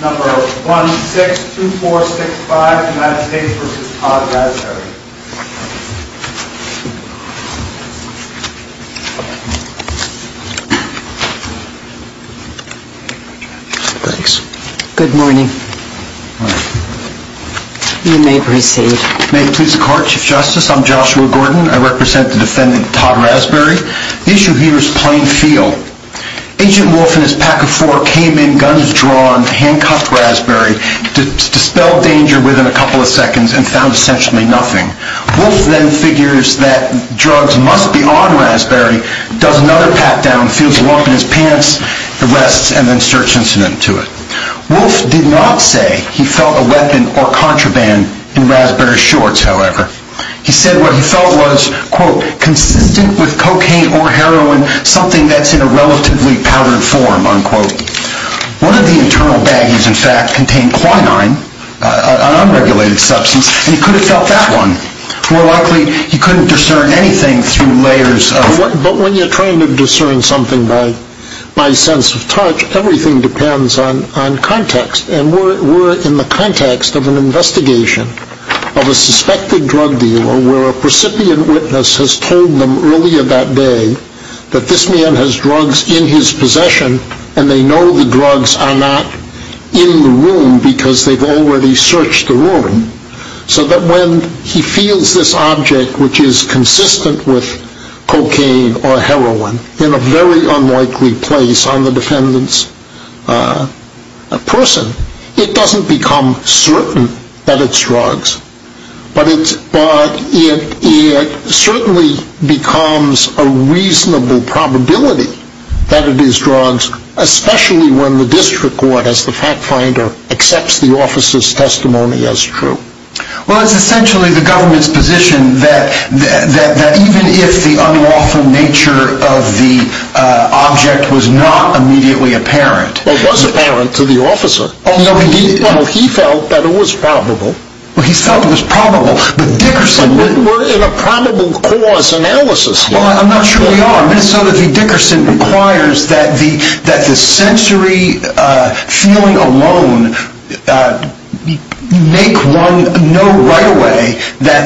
Number 162465 United States v. Todd Rasberry Thanks Good morning You may proceed May it please the court, Chief Justice, I'm Joshua Gordon, I represent the defendant Todd Rasberry The issue here is plain feel Agent Wolfe and his pack of four came in, guns drawn, handcuffed Rasberry, dispelled danger within a couple of seconds and found essentially nothing Wolfe then figures that drugs must be on Rasberry, does another pat down, feels a lump in his pants, arrests and then search incident to it Wolfe did not say he felt a weapon or contraband in Rasberry's shorts, however He said what he felt was, quote, consistent with cocaine or heroin, something that's in a relatively powdered form, unquote One of the internal baggies in fact contained quinine, an unregulated substance, and he could have felt that one More likely he couldn't discern anything through layers of But when you're trying to discern something by sense of touch, everything depends on context And we're in the context of an investigation of a suspected drug dealer where a recipient witness has told them earlier that day That this man has drugs in his possession and they know the drugs are not in the room because they've already searched the room So that when he feels this object which is consistent with cocaine or heroin in a very unlikely place on the defendant's person It doesn't become certain that it's drugs, but it certainly becomes a reasonable probability that it is drugs Especially when the district court as the fact finder accepts the officer's testimony as true Well, it's essentially the government's position that even if the unlawful nature of the object was not immediately apparent Well, it was apparent to the officer Well, he felt that it was probable Well, he felt it was probable, but Dickerson We're in a probable cause analysis here I'm not sure we are. Minnesota v. Dickerson requires that the sensory feeling alone make one know right away that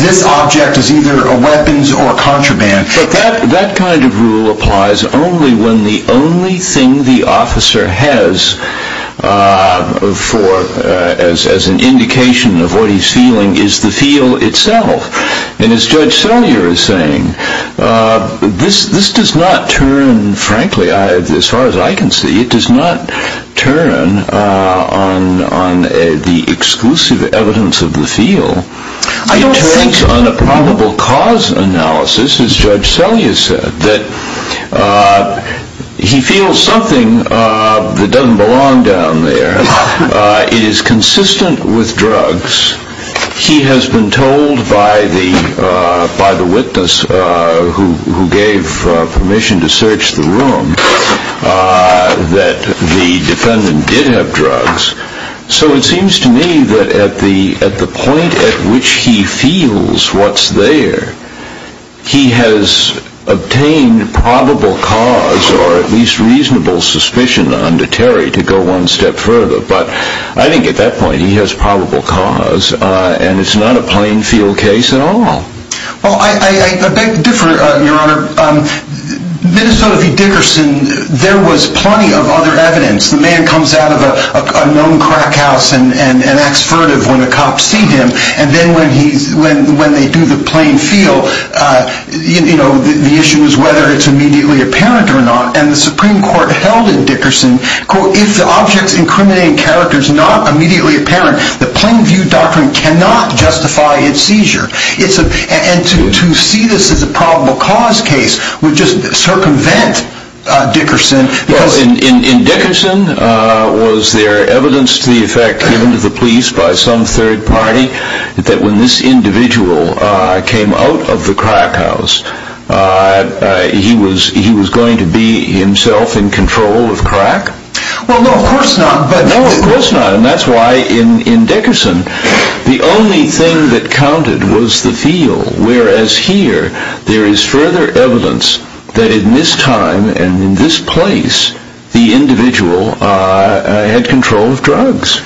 this object is either a weapons or a contraband But that kind of rule applies only when the only thing the officer has as an indication of what he's feeling is the feel itself And as Judge Selyer is saying, this does not turn, frankly, as far as I can see, it does not turn on the exclusive evidence of the feel It turns on a probable cause analysis, as Judge Selyer said, that he feels something that doesn't belong down there It is consistent with drugs He has been told by the witness who gave permission to search the room that the defendant did have drugs So it seems to me that at the point at which he feels what's there, he has obtained probable cause or at least reasonable suspicion under Terry to go one step further But I think at that point he has probable cause and it's not a plain feel case at all Well, I beg to differ, Your Honor. Minnesota v. Dickerson, there was plenty of other evidence The man comes out of a known crack house and acts furtive when the cops see him And then when they do the plain feel, the issue is whether it's immediately apparent or not And the Supreme Court held in Dickerson, quote, if the object's incriminating character is not immediately apparent, the plain view doctrine cannot justify its seizure And to see this as a probable cause case would just circumvent Dickerson In Dickerson, was there evidence to the effect given to the police by some third party that when this individual came out of the crack house, he was going to be himself in control of crack? Well, no, of course not And that's why in Dickerson, the only thing that counted was the feel Whereas here, there is further evidence that in this time and in this place, the individual had control of drugs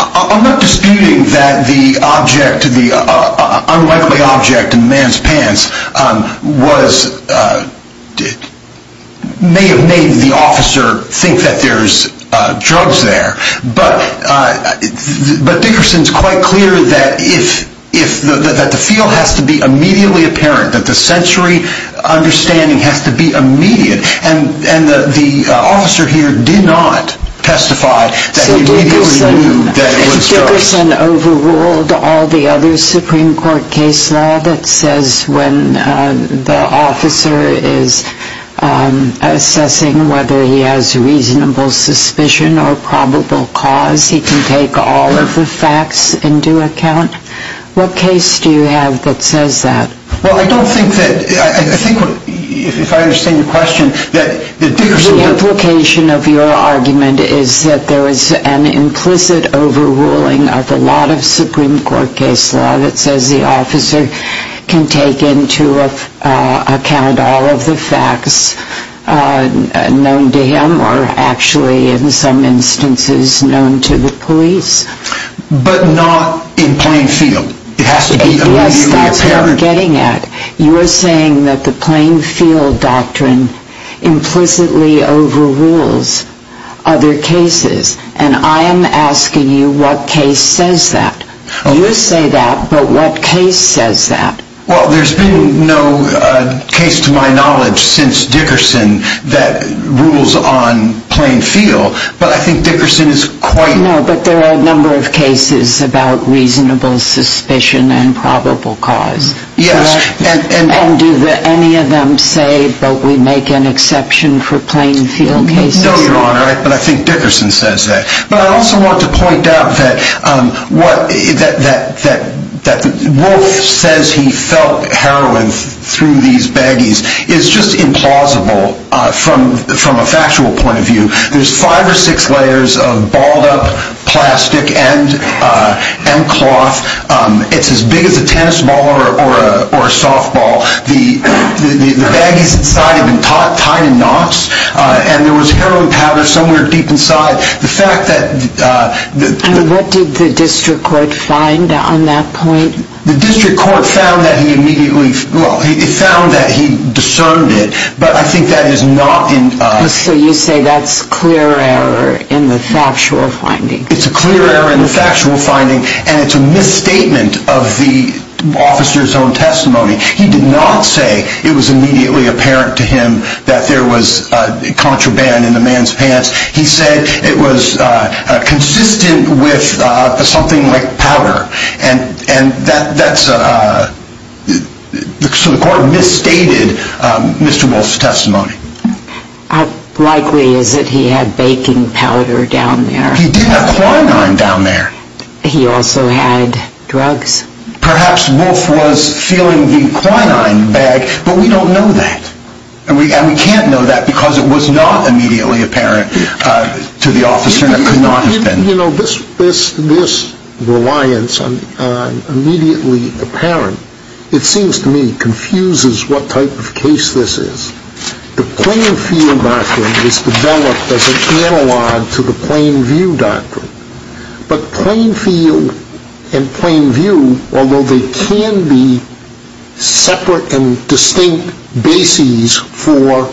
I'm not disputing that the unlikely object in the man's pants may have made the officer think that there's drugs there But Dickerson's quite clear that the feel has to be immediately apparent, that the sensory understanding has to be immediate And the officer here did not testify that he immediately knew that it was drugs So Dickerson overruled all the other Supreme Court case law that says when the officer is assessing whether he has reasonable suspicion or probable cause, he can take all of the facts into account? What case do you have that says that? Well, I don't think that, if I understand your question, that Dickerson The implication of your argument is that there is an implicit overruling of a lot of Supreme Court case law that says the officer can take into account all of the facts known to him or actually in some instances known to the police But not in plain field, it has to be immediately apparent What you're getting at, you're saying that the plain field doctrine implicitly overrules other cases And I am asking you what case says that? You say that, but what case says that? Well, there's been no case to my knowledge since Dickerson that rules on plain field, but I think Dickerson is quite No, but there are a number of cases about reasonable suspicion and probable cause Yes And do any of them say that we make an exception for plain field cases? No, Your Honor, but I think Dickerson says that But I also want to point out that Wolf says he felt heroin through these baggies is just implausible from a factual point of view There's five or six layers of balled up plastic and cloth, it's as big as a tennis ball or a softball The baggies inside have been tied in knots and there was heroin powder somewhere deep inside And what did the district court find on that point? The district court found that he discerned it, but I think that is not So you say that's clear error in the factual finding? It's a clear error in the factual finding and it's a misstatement of the officer's own testimony He did not say it was immediately apparent to him that there was contraband in the man's pants He said it was consistent with something like powder So the court misstated Mr. Wolf's testimony How likely is it he had baking powder down there? He did have quinine down there He also had drugs? Perhaps Wolf was feeling the quinine bag, but we don't know that And we can't know that because it was not immediately apparent to the officer This reliance on immediately apparent, it seems to me confuses what type of case this is The Plainfield Doctrine is developed as an analog to the Plainview Doctrine But Plainfield and Plainview, although they can be separate and distinct bases for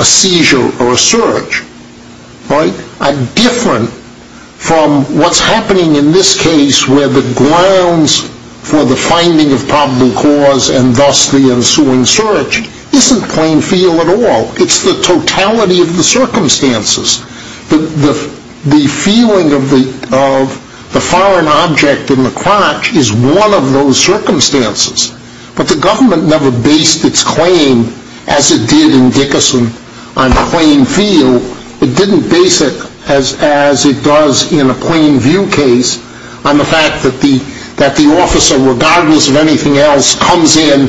a seizure or a surge Are different from what's happening in this case where the grounds for the finding of probable cause And thus the ensuing search isn't Plainfield at all It's the totality of the circumstances The feeling of the foreign object in the crotch is one of those circumstances But the government never based its claim as it did in Dickerson on Plainfield It didn't base it as it does in a Plainview case On the fact that the officer, regardless of anything else, comes in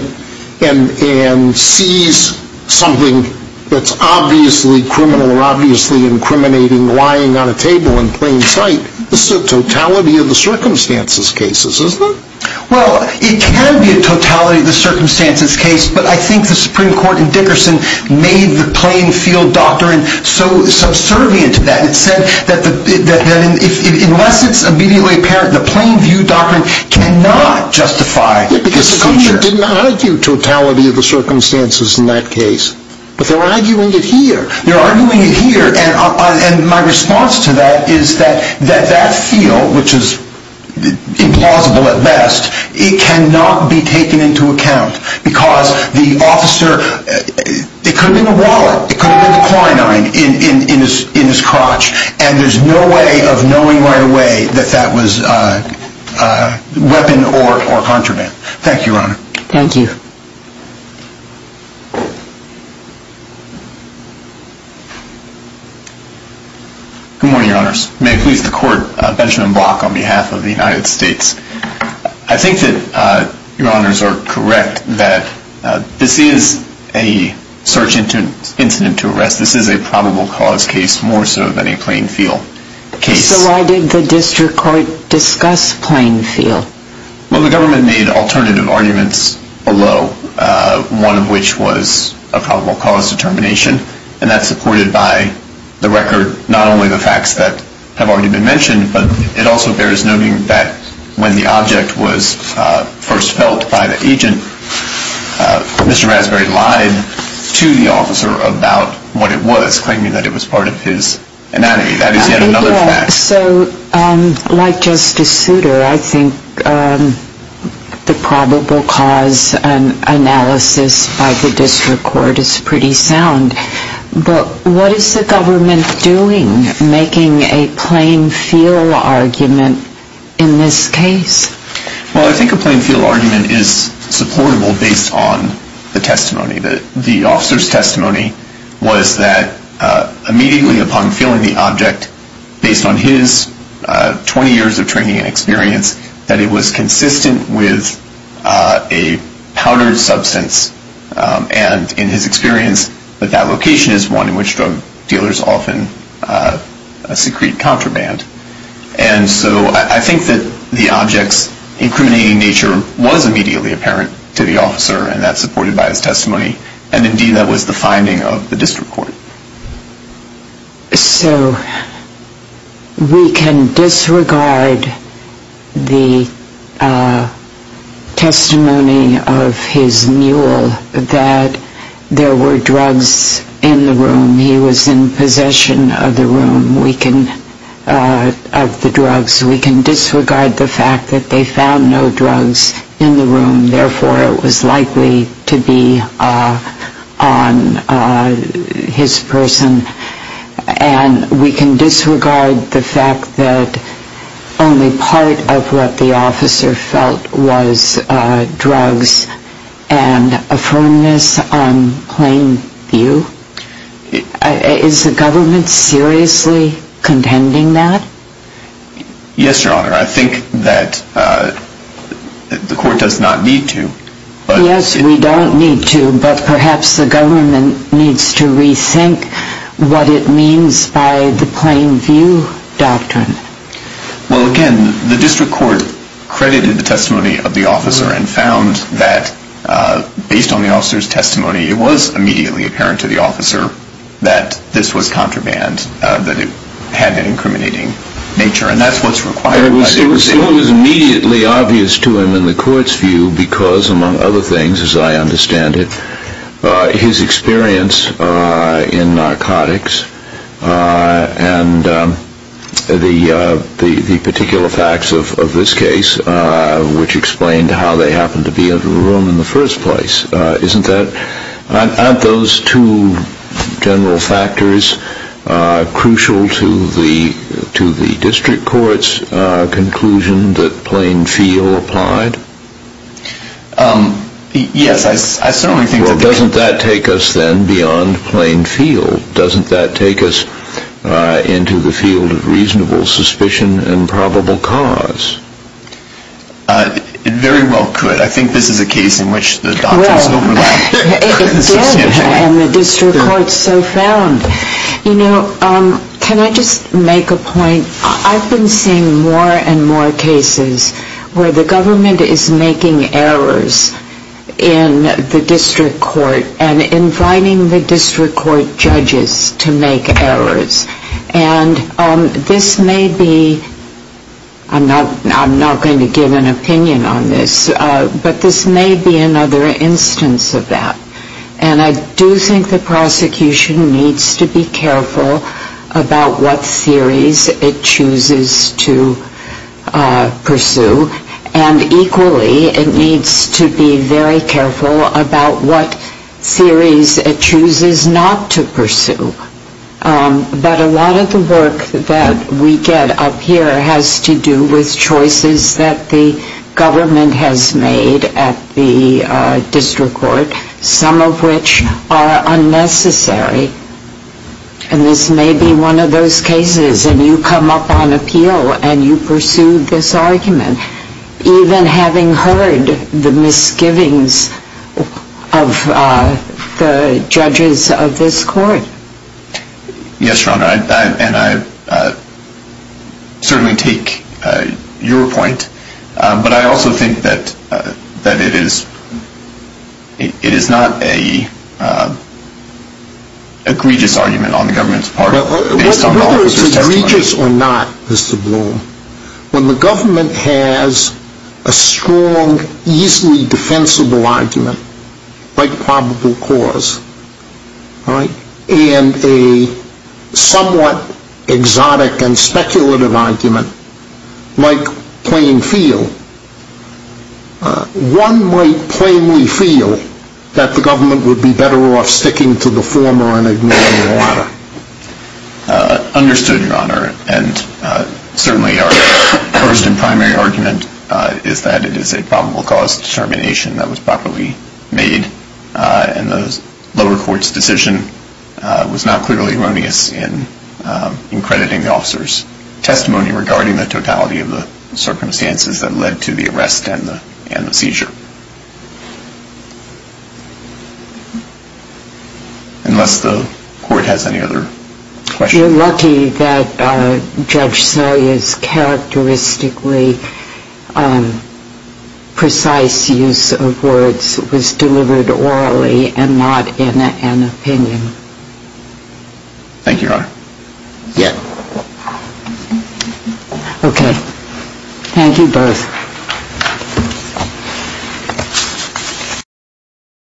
and sees something that's obviously criminal Or obviously incriminating lying on a table in plain sight This is a totality of the circumstances case, isn't it? Well, it can be a totality of the circumstances case But I think the Supreme Court in Dickerson made the Plainfield Doctrine so subservient to that It said that unless it's immediately apparent, the Plainview Doctrine cannot justify a seizure But the Supreme Court didn't argue totality of the circumstances in that case But they're arguing it here They're arguing it here And my response to that is that that feel, which is implausible at best It cannot be taken into account Because the officer, it could have been a wallet It could have been the quinine in his crotch And there's no way of knowing right away that that was a weapon or contraband Thank you, Your Honor Thank you Good morning, Your Honors May it please the Court, Benjamin Block on behalf of the United States I think that Your Honors are correct that this is a search incident to arrest This is a probable cause case more so than a Plainfield case So why did the District Court discuss Plainfield? Well, the government made alternative arguments below One of which was a probable cause determination And that's supported by the record Not only the facts that have already been mentioned But it also bears noting that when the object was first felt by the agent Mr. Raspberry lied to the officer about what it was Claiming that it was part of his anatomy That is yet another fact So like Justice Souter, I think the probable cause analysis by the District Court is pretty sound But what is the government doing making a Plainfield argument in this case? Well, I think a Plainfield argument is supportable based on the testimony The officer's testimony was that immediately upon feeling the object Based on his 20 years of training and experience That it was consistent with a powdered substance And in his experience that that location is one in which drug dealers often secrete contraband And so I think that the object's incriminating nature was immediately apparent to the officer And that's supported by his testimony And indeed that was the finding of the District Court So we can disregard the testimony of his mule that there were drugs in the room He was in possession of the room of the drugs We can disregard the fact that they found no drugs in the room Therefore it was likely to be on his person And we can disregard the fact that only part of what the officer felt was drugs And a firmness on Plainview Is the government seriously contending that? Yes, Your Honor, I think that the court does not need to Yes, we don't need to But perhaps the government needs to rethink what it means by the Plainview Doctrine Well, again, the District Court credited the testimony of the officer And found that based on the officer's testimony It was immediately apparent to the officer that this was contraband And that it had an incriminating nature And that's what's required by the proceeding It was immediately obvious to him in the court's view Because among other things, as I understand it His experience in narcotics And the particular facts of this case Which explained how they happened to be in the room in the first place Aren't those two general factors Crucial to the District Court's conclusion that Plainview applied? Yes, I certainly think that Well, doesn't that take us then beyond Plainview? Doesn't that take us into the field of reasonable suspicion and probable cause? It very well could I think this is a case in which the doctrines overlap It did, and the District Court so found You know, can I just make a point? I've been seeing more and more cases Where the government is making errors in the District Court And inviting the District Court judges to make errors And this may be I'm not going to give an opinion on this But this may be another instance of that And I do think the prosecution needs to be careful About what theories it chooses to pursue And equally, it needs to be very careful About what theories it chooses not to pursue But a lot of the work that we get up here Has to do with choices that the government has made at the District Court Some of which are unnecessary And this may be one of those cases And you come up on appeal and you pursue this argument Even having heard the misgivings of the judges of this court Yes, Your Honor, and I certainly take your point But I also think that it is not an egregious argument on the government's part Whether it's egregious or not, Mr. Bloom When the government has a strong, easily defensible argument Like probable cause And a somewhat exotic and speculative argument Like plain feel One might plainly feel that the government would be better off Sticking to the former and ignoring the latter Understood, Your Honor And certainly our first and primary argument Is that it is a probable cause determination that was properly made And the lower court's decision was not clearly erroneous In crediting the officer's testimony regarding the totality of the circumstances That led to the arrest and the seizure Unless the court has any other questions You're lucky that Judge Salyer's characteristically precise use of words Was delivered orally and not in an opinion Thank you, Your Honor Okay, thank you both Thank you